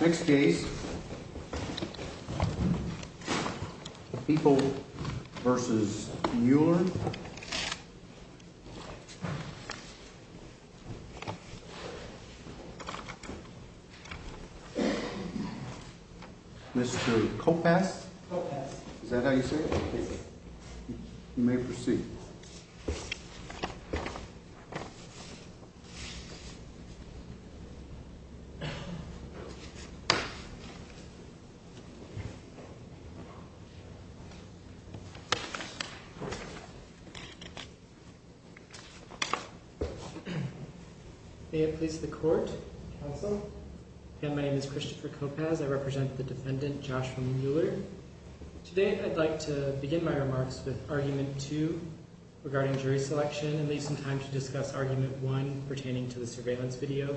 Next case, Epel v. Mueller Mr. Koppes, is that how you say it? Yes. You may proceed. May it please the court, counsel. My name is Christopher Koppes. I represent the defendant, Joshua Mueller. Today, I'd like to begin my remarks with Argument 2 regarding jury selection and leave some time to discuss Argument 1 pertaining to the surveillance video.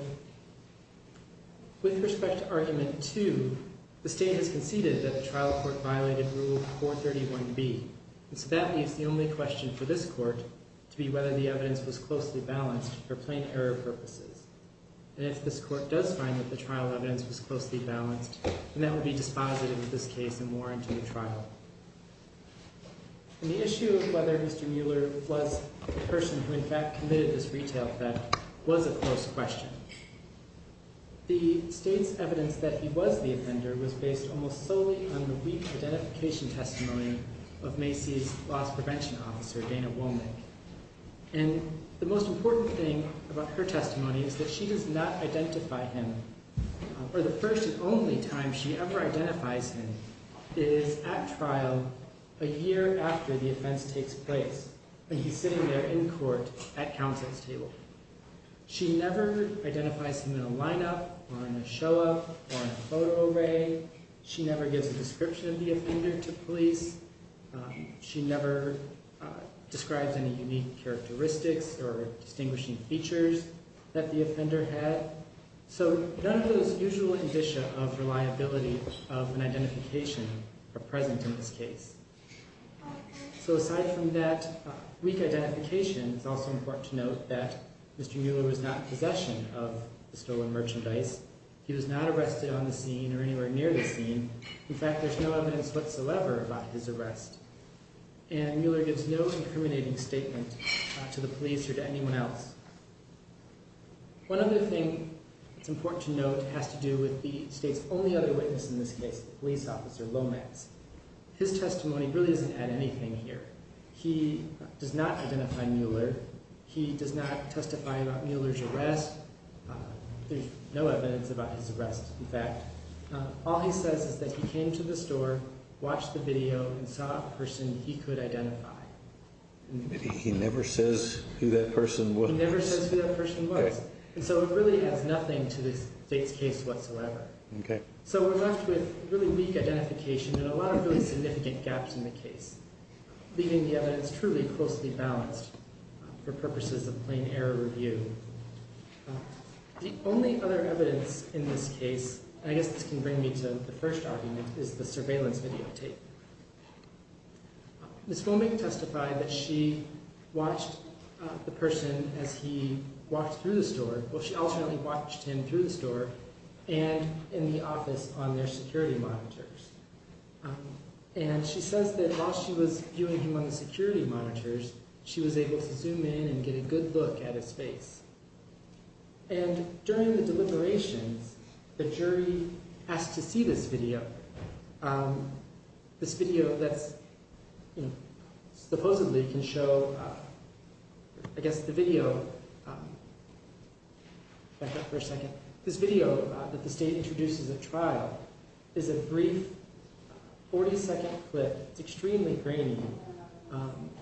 With respect to Argument 2, the state has conceded that the trial court violated Rule 431B, and so that leaves the only question for this court to be whether the evidence was closely balanced for plain error purposes. And if this court does find that the trial evidence was closely balanced, then that would be dispositive of this case and warrant a new trial. The issue of whether Mr. Mueller was the person who in fact committed this retail theft was a close question. The state's evidence that he was the offender was based almost solely on the weak identification testimony of Macy's loss prevention officer, Dana Womack. And the most important thing about her testimony is that she does not identify him, or the first and only time she ever identifies him is at trial a year after the offense takes place. He's sitting there in court at counsel's table. She never identifies him in a lineup or in a show-up or in a photo array. She never gives a description of the offender to police. She never describes any unique characteristics or distinguishing features that the offender had. So none of those usual indicia of reliability of an identification are present in this case. So aside from that weak identification, it's also important to note that Mr. Mueller was not in possession of the stolen merchandise. He was not arrested on the scene or anywhere near the scene. In fact, there's no evidence whatsoever about his arrest. And Mueller gives no incriminating statement to the police or to anyone else. One other thing that's important to note has to do with the state's only other witness in this case, the police officer, Lomax. His testimony really doesn't add anything here. He does not identify Mueller. He does not testify about Mueller's arrest. There's no evidence about his arrest, in fact. All he says is that he came to the store, watched the video, and saw a person he could identify. He never says who that person was? He never says who that person was. And so it really adds nothing to the state's case whatsoever. Okay. So we're left with really weak identification and a lot of really significant gaps in the case, leaving the evidence truly closely balanced for purposes of plain error review. The only other evidence in this case, and I guess this can bring me to the first argument, is the surveillance videotape. Ms. Fomich testified that she watched the person as he walked through the store. Well, she alternately watched him through the store and in the office on their security monitors. And she says that while she was viewing him on the security monitors, she was able to zoom in and get a good look at his face. And during the deliberations, the jury asked to see this video, this video that supposedly can show, I guess the video—back up for a second— this video that the state introduces at trial is a brief 40-second clip. It's extremely grainy.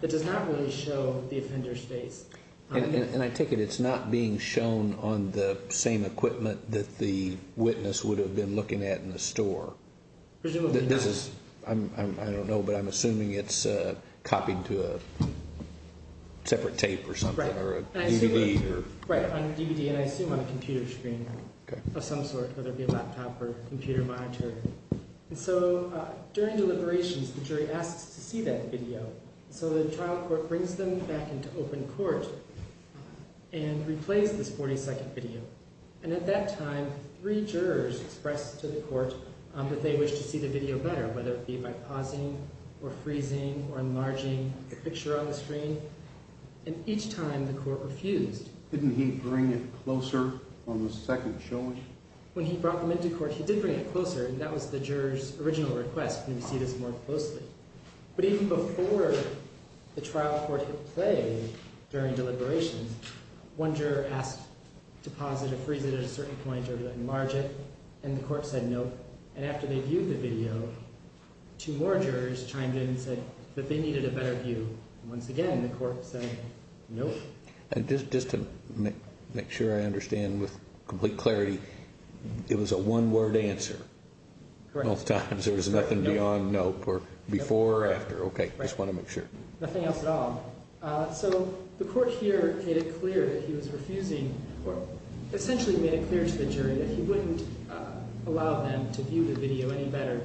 It does not really show the offender's face. And I take it it's not being shown on the same equipment that the witness would have been looking at in the store. Presumably not. I don't know, but I'm assuming it's copied to a separate tape or something or a DVD. Right, on a DVD, and I assume on a computer screen of some sort, whether it be a laptop or computer monitor. And so during deliberations, the jury asks to see that video. So the trial court brings them back into open court and replays this 40-second video. And at that time, three jurors express to the court that they wish to see the video better, whether it be by pausing or freezing or enlarging the picture on the screen. And each time the court refused. Didn't he bring it closer on the second showing? When he brought them into court, he did bring it closer, and that was the juror's original request, to see this more closely. But even before the trial court hit play during deliberations, one juror asked to pause it or freeze it at a certain point or enlarge it, and the court said no. And after they viewed the video, two more jurors chimed in and said that they needed a better view. Once again, the court said no. And just to make sure I understand with complete clarity, it was a one-word answer. Correct. Most times there was nothing beyond nope or before or after. Okay. I just want to make sure. Nothing else at all. So the court here made it clear that he was refusing or essentially made it clear to the jury that he wouldn't allow them to view the video any better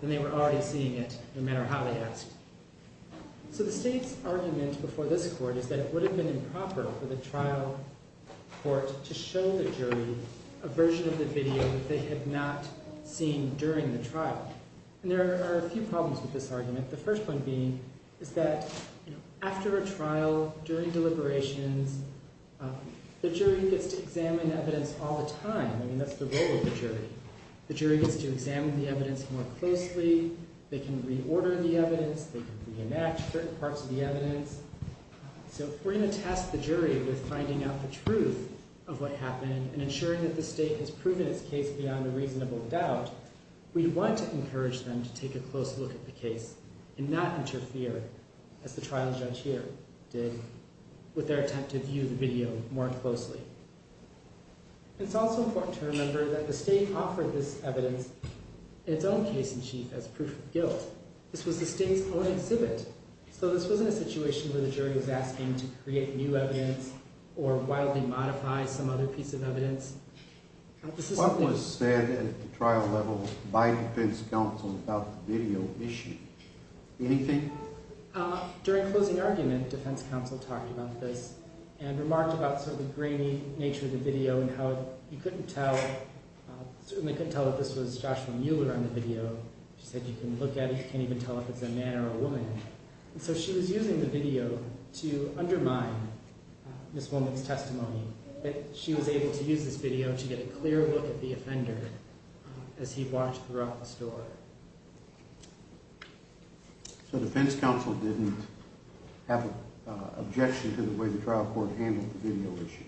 than they were already seeing it, no matter how they asked. So the state's argument before this court is that it would have been improper for the trial court to show the jury a version of the video that they had not seen during the trial. And there are a few problems with this argument. The first one being is that after a trial, during deliberations, the jury gets to examine evidence all the time. I mean, that's the role of the jury. The jury gets to examine the evidence more closely. They can reorder the evidence. They can reenact certain parts of the evidence. So if we're going to test the jury with finding out the truth of what happened and ensuring that the state has proven its case beyond a reasonable doubt, we want to encourage them to take a close look at the case and not interfere, as the trial judge here did, with their attempt to view the video more closely. It's also important to remember that the state offered this evidence, in its own case in chief, as proof of guilt. This was the state's own exhibit. So this wasn't a situation where the jury was asking to create new evidence or wildly modify some other piece of evidence. What was said at the trial level by defense counsel about the video issue? Anything? During closing argument, defense counsel talked about this and remarked about sort of the grainy nature of the video and how you certainly couldn't tell that this was Joshua Mueller on the video. She said you can look at it. You can't even tell if it's a man or a woman. So she was using the video to undermine Ms. Woolman's testimony, but she was able to use this video to get a clear look at the offender as he watched throughout the story. So defense counsel didn't have an objection to the way the trial court handled the video issue?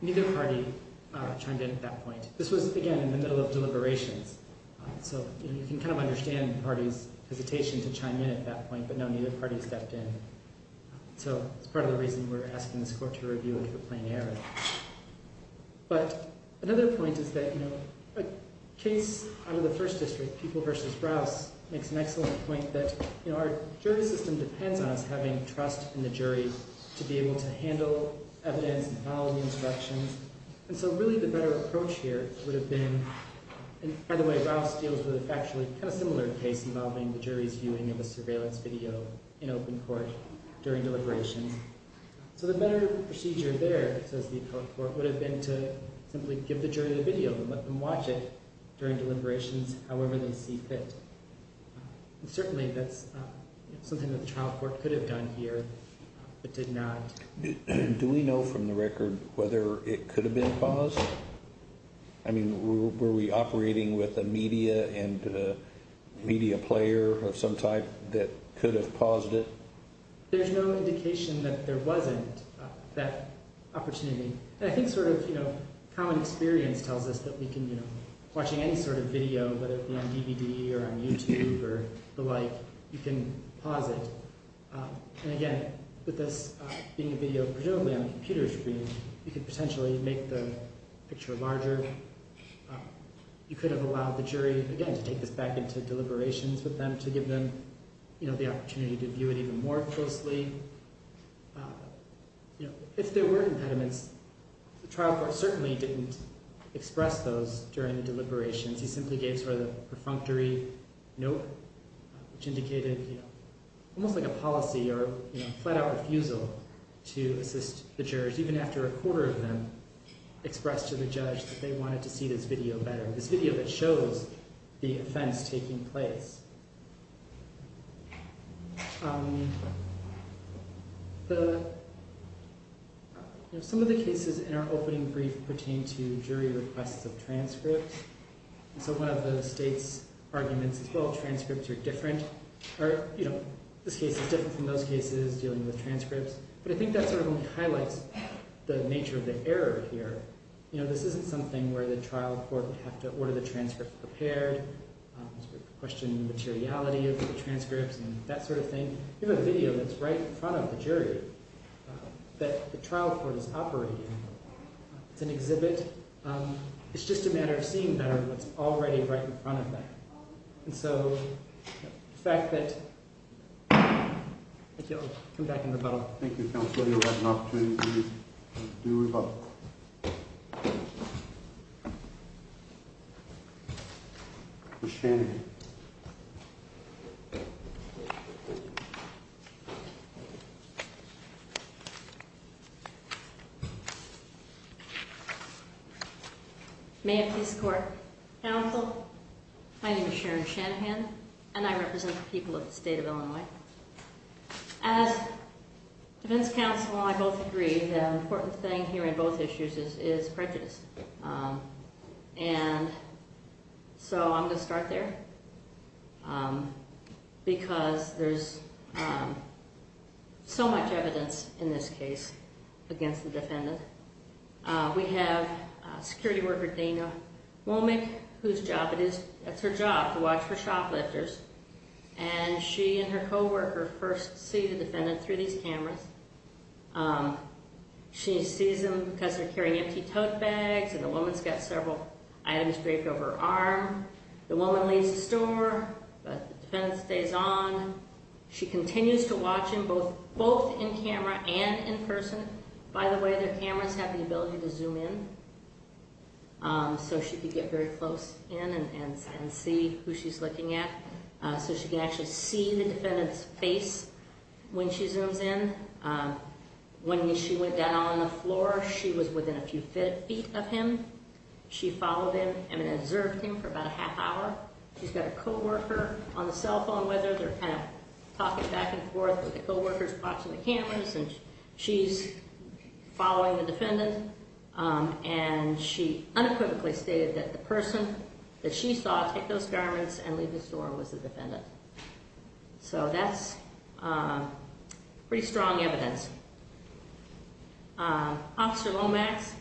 Neither party chimed in at that point. This was, again, in the middle of deliberations, so you can kind of understand the party's hesitation to chime in at that point, but no, neither party stepped in. So it's part of the reason we're asking this court to review it for plain error. But another point is that, you know, a case out of the First District, People v. Rouse, makes an excellent point that, you know, our jury system depends on us having trust in the jury to be able to handle evidence and follow the instructions. And so really the better approach here would have been— and by the way, Rouse deals with a factually kind of similar case involving the jury's viewing of a surveillance video in open court during deliberations. So the better procedure there, says the appellate court, would have been to simply give the jury the video and let them watch it during deliberations, however they see fit. And certainly that's something that the trial court could have done here but did not. Do we know from the record whether it could have been paused? I mean, were we operating with a media and a media player of some type that could have paused it? There's no indication that there wasn't that opportunity. And I think sort of, you know, common experience tells us that we can, you know, watching any sort of video, whether it be on DVD or on YouTube or the like, you can pause it. And again, with this being a video presumably on a computer screen, you could potentially make the picture larger. You could have allowed the jury, again, to take this back into deliberations with them to give them, you know, the opportunity to view it even more closely. You know, if there were impediments, the trial court certainly didn't express those during the deliberations. He simply gave sort of a perfunctory note which indicated, you know, almost like a policy or, you know, flat-out refusal to assist the jurors, even after a quarter of them expressed to the judge that they wanted to see this video better, this video that shows the offense taking place. Some of the cases in our opening brief pertain to jury requests of transcripts. And so one of the state's arguments is, well, transcripts are different. You know, this case is different from those cases dealing with transcripts. But I think that sort of only highlights the nature of the error here. You know, this isn't something where the trial court would have to order the transcript prepared, sort of question the materiality of the transcripts and that sort of thing. You have a video that's right in front of the jury that the trial court is operating. It's an exhibit. It's just a matter of seeing better what's already right in front of them. And so the fact that you'll come back in rebuttal. Thank you, counsel. You'll have an opportunity to do rebuttal. Ms. Shanahan. Mayor of Peace Court, counsel, my name is Sharon Shanahan, and I represent the people of the state of Illinois. As defense counsel, I both agree the important thing here in both issues is prejudice. And so I'm going to start there because there's so much evidence in this case against the defendant. We have security worker Dana Womick, whose job it is, it's her job to watch for shoplifters. And she and her co-worker first see the defendant through these cameras. She sees them because they're carrying empty tote bags and the woman's got several items draped over her arm. The woman leaves the store, but the defendant stays on. She continues to watch him both in camera and in person. By the way, their cameras have the ability to zoom in. So she could get very close in and see who she's looking at. So she can actually see the defendant's face when she zooms in. When she went down on the floor, she was within a few feet of him. She followed him and observed him for about a half hour. She's got a co-worker on the cell phone with her. They're kind of talking back and forth with the co-workers watching the cameras, and she's following the defendant. And she unequivocally stated that the person that she saw take those garments and leave the store was the defendant. So that's pretty strong evidence. Officer Lomax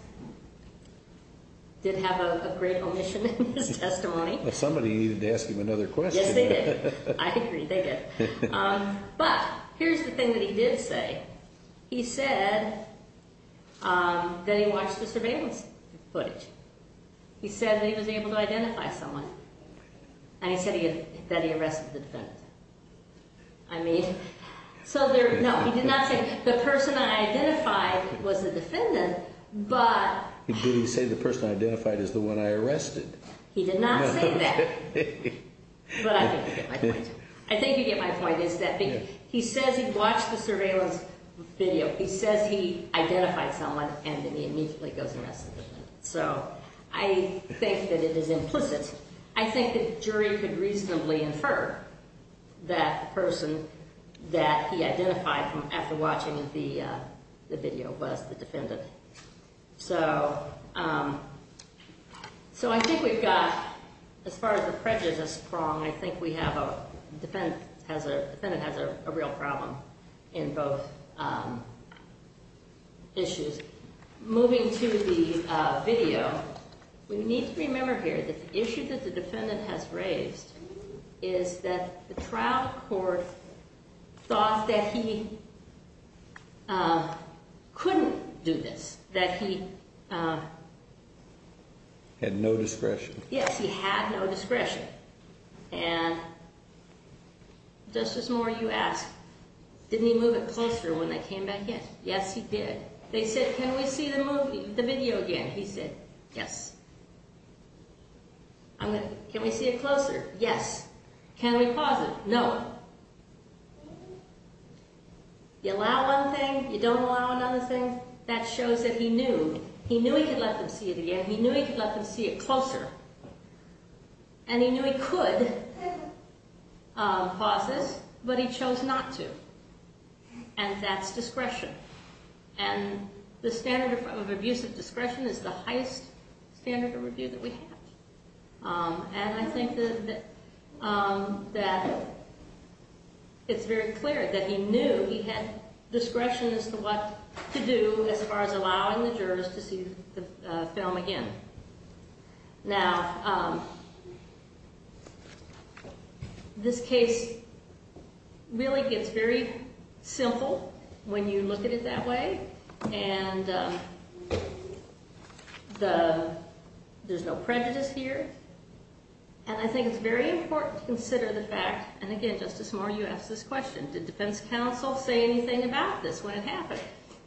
did have a great omission in his testimony. Somebody needed to ask him another question. Yes, they did. I agree, they did. But here's the thing that he did say. He said that he watched the surveillance footage. He said that he was able to identify someone. And he said that he arrested the defendant. No, he did not say the person I identified was the defendant, but... Did he say the person I identified is the one I arrested? He did not say that. But I think you get my point. I think you get my point, is that he says he watched the surveillance video. He says he identified someone, and then he immediately goes and arrests the defendant. So I think that it is implicit. I think the jury could reasonably infer that the person that he identified after watching the video was the defendant. So I think we've got, as far as the prejudice prong, I think the defendant has a real problem in both issues. Moving to the video, we need to remember here that the issue that the defendant has raised is that the trial court thought that he couldn't do this. That he... Had no discretion. Yes, he had no discretion. And Justice Moore, you asked, didn't he move it closer when they came back in? Yes, he did. They said, can we see the video again? He said, yes. Can we see it closer? Yes. Can we pause it? No. You allow one thing, you don't allow another thing, that shows that he knew. He knew he could let them see it again. He knew he could let them see it closer. And he knew he could pause this, but he chose not to. And that's discretion. And the standard of abuse of discretion is the highest standard of review that we have. And I think that it's very clear that he knew he had discretion as to what to do as far as allowing the jurors to see the film again. Now... This case really gets very simple when you look at it that way. And... The... There's no prejudice here. And I think it's very important to consider the fact, and again, Justice Moore, you asked this question. Did defense counsel say anything about this when it happened?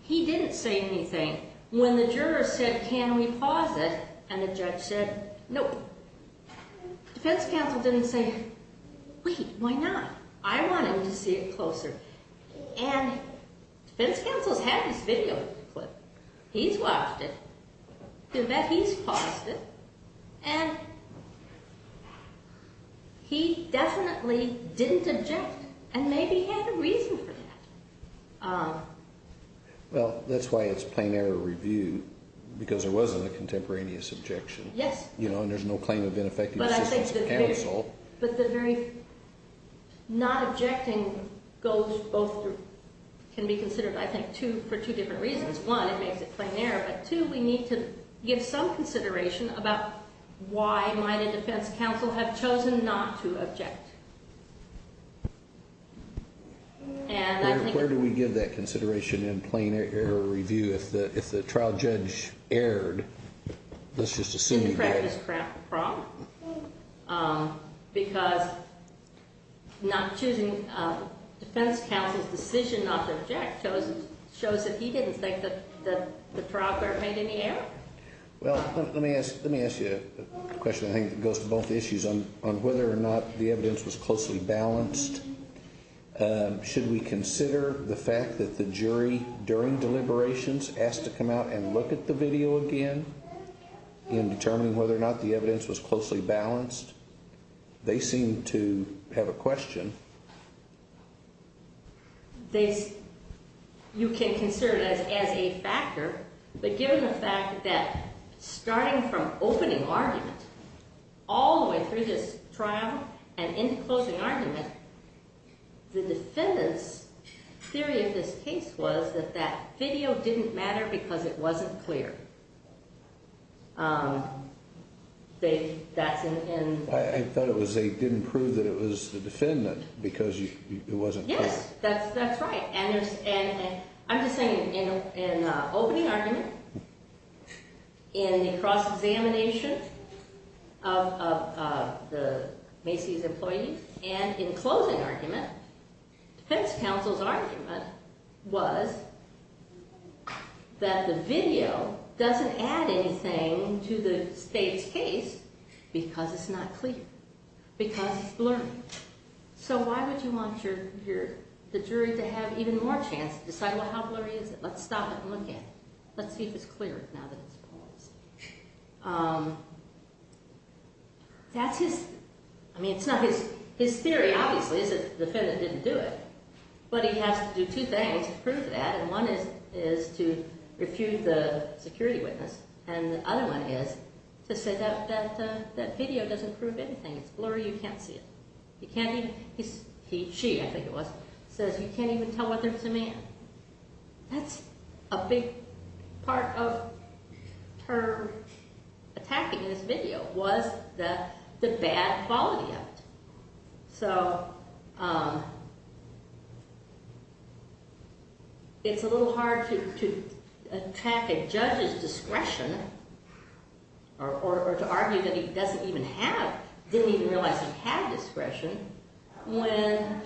He didn't say anything. When the jurors said, can we pause it? And the judge said, no. Defense counsel didn't say, wait, why not? I want him to see it closer. And defense counsel's had this video clip. He's watched it. In fact, he's paused it. And... He definitely didn't object and maybe had a reason for that. Well, that's why it's plain error review. Because there wasn't a contemporaneous objection. Yes. You know, and there's no claim of ineffective assistance of counsel. But the very... Not objecting goes both... Can be considered, I think, for two different reasons. One, it makes it plain error. But two, we need to give some consideration about why might a defense counsel have chosen not to object. And I think... Where do we give that consideration in plain error review if the trial judge erred? Let's just assume he did. Did he practice fraud? Because not choosing... Defense counsel's decision not to object shows that he didn't think that the trial court made any error? Well, let me ask you a question, I think, that goes to both issues. On whether or not the evidence was closely balanced. Should we consider the fact that the jury, during deliberations, asked to come out and look at the video again? In determining whether or not the evidence was closely balanced? They seem to have a question. They... You can consider that as a factor. But given the fact that, starting from opening argument, all the way through this trial and into closing argument, the defendant's theory of this case was that that video didn't matter because it wasn't clear. They... That's in... I thought it was they didn't prove that it was the defendant because it wasn't clear. Yes, that's right. And I'm just saying, in opening argument, in the cross-examination of the Macy's employees, and in closing argument, defense counsel's argument was that the video doesn't add anything to the state's case because it's not clear. Because it's blurry. So why would you want the jury to have even more chance to decide, well, how blurry is it? Let's stop and look at it. Let's see if it's clear now that it's closed. That's his... I mean, it's not his... His theory, obviously, is that the defendant didn't do it. But he has to do two things to prove that. And one is to refute the security witness. And the other one is to say that video doesn't prove anything. It's blurry, you can't see it. You can't even... He... She, I think it was, says you can't even tell whether it's a man. That's a big part of her attacking this video was the bad quality of it. So it's a little hard to attack a judge's discretion or to argue that he doesn't even have... Didn't even realize he had discretion when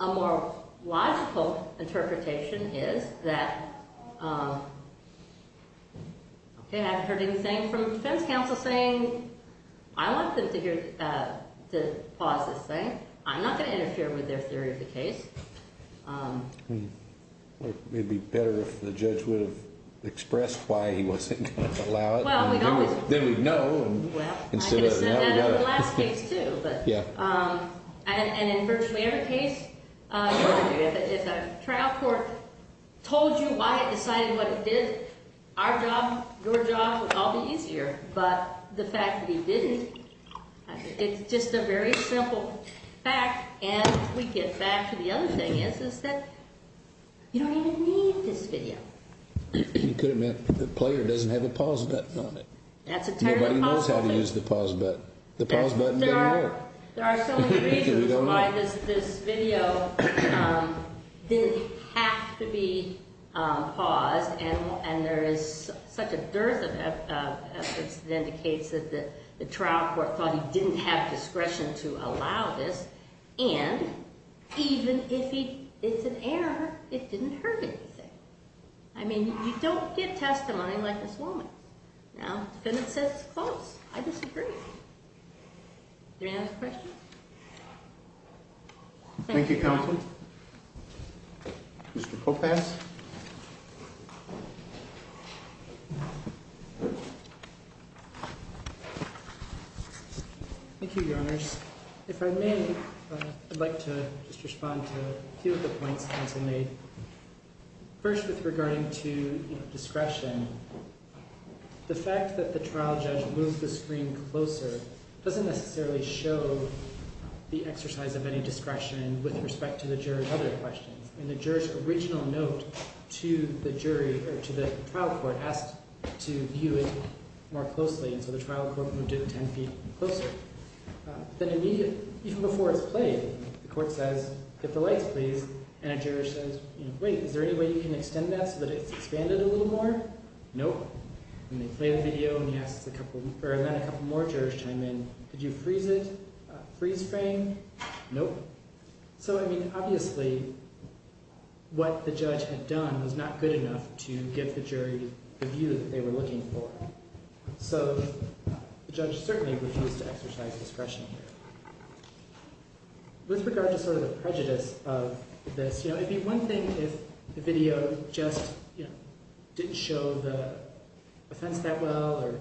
a more logical interpretation is that... Okay, I haven't heard anything from the defense counsel saying... I want them to hear... To pause this thing. I'm not going to interfere with their theory of the case. It would be better if the judge would have expressed why he wasn't going to allow it. Then we'd know. I could have said that in the last case, too. And in virtually every case, if a trial court told you why it decided what it did, our job, your job, would all be easier. But the fact that he didn't, it's just a very simple fact. And we get back to the other thing is that you don't even need this video. You could have meant the player doesn't have a pause button on it. That's a terrible pause button. Nobody knows how to use the pause button. The pause button doesn't work. There are so many reasons why this video didn't have to be paused. And there is such a dearth of evidence that indicates that the trial court thought he didn't have discretion to allow this. And even if it's an error, it didn't hurt anything. I mean, you don't get testimony like this woman. Now, the defendant says it's close. I disagree. Any other questions? Thank you, Counsel. Mr. Kopass. Thank you, Your Honors. If I may, I'd like to just respond to a few of the points the counsel made. First, with regarding to discretion. The fact that the trial judge moved the screen closer doesn't necessarily show the exercise of any discretion with respect to the juror's other questions. And the juror's original note to the jury or to the trial court asked to view it more closely. And so the trial court moved it 10 feet closer. Then immediately, even before it's played, the court says, get the lights, please. And a juror says, wait, is there any way you can extend that so that it's expanded a little more? Nope. And they play the video and then a couple more jurors chime in. Could you freeze it, freeze frame? Nope. So, I mean, obviously, what the judge had done was not good enough to give the jury the view that they were looking for. So the judge certainly refused to exercise discretion here. With regard to sort of the prejudice of this, you know, it'd be one thing if the video just, you know, didn't show the offense that well or,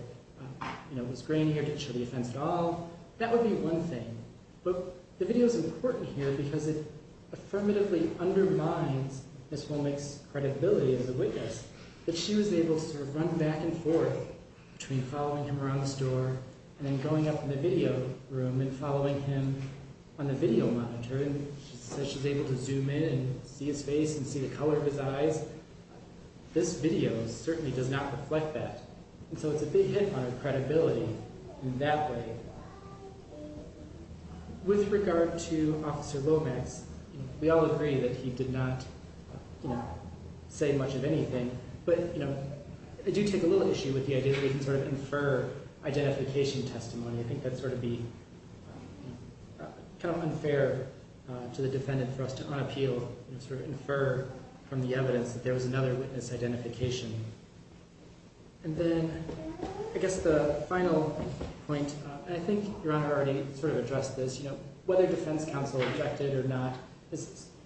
you know, was grainy or didn't show the offense at all. That would be one thing. But the video's important here because it affirmatively undermines Ms. Womack's credibility as a witness. That she was able to sort of run back and forth between following him around the store and then going up in the video room and following him on the video monitor. And she said she was able to zoom in and see his face and see the color of his eyes. This video certainly does not reflect that. And so it's a big hit on her credibility in that way. With regard to Officer Lomax, we all agree that he did not, you know, say much of anything. But, you know, I do take a little issue with the idea that he can sort of infer identification testimony. I think that'd sort of be kind of unfair to the defendant for us to unappeal and sort of infer from the evidence that there was another witness identification. And then I guess the final point, and I think Your Honor already sort of addressed this, you know, whether defense counsel objected or not,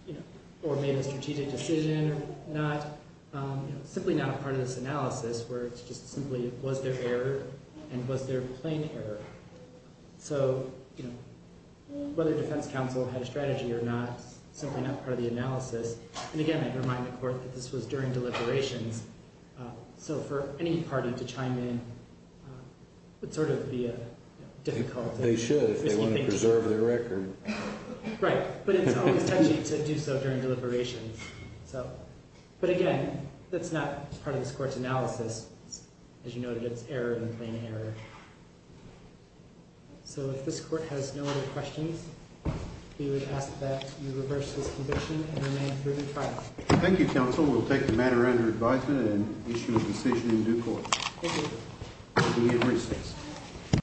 you know, or made a strategic decision or not, you know, simply not a part of this analysis where it's just simply was there error and was there plain error. So, you know, whether defense counsel had a strategy or not is simply not part of the analysis. And again, I'd remind the Court that this was during deliberations. So for any party to chime in would sort of be a difficulty. They should if they want to preserve their record. Right. But it's always touchy to do so during deliberations. But again, that's not part of this Court's analysis. As you noted, it's error and plain error. So if this Court has no other questions, we would ask that you reverse this condition and remain through the trial. Thank you, counsel. We'll take the matter under advisement and issue a decision in due course. Thank you.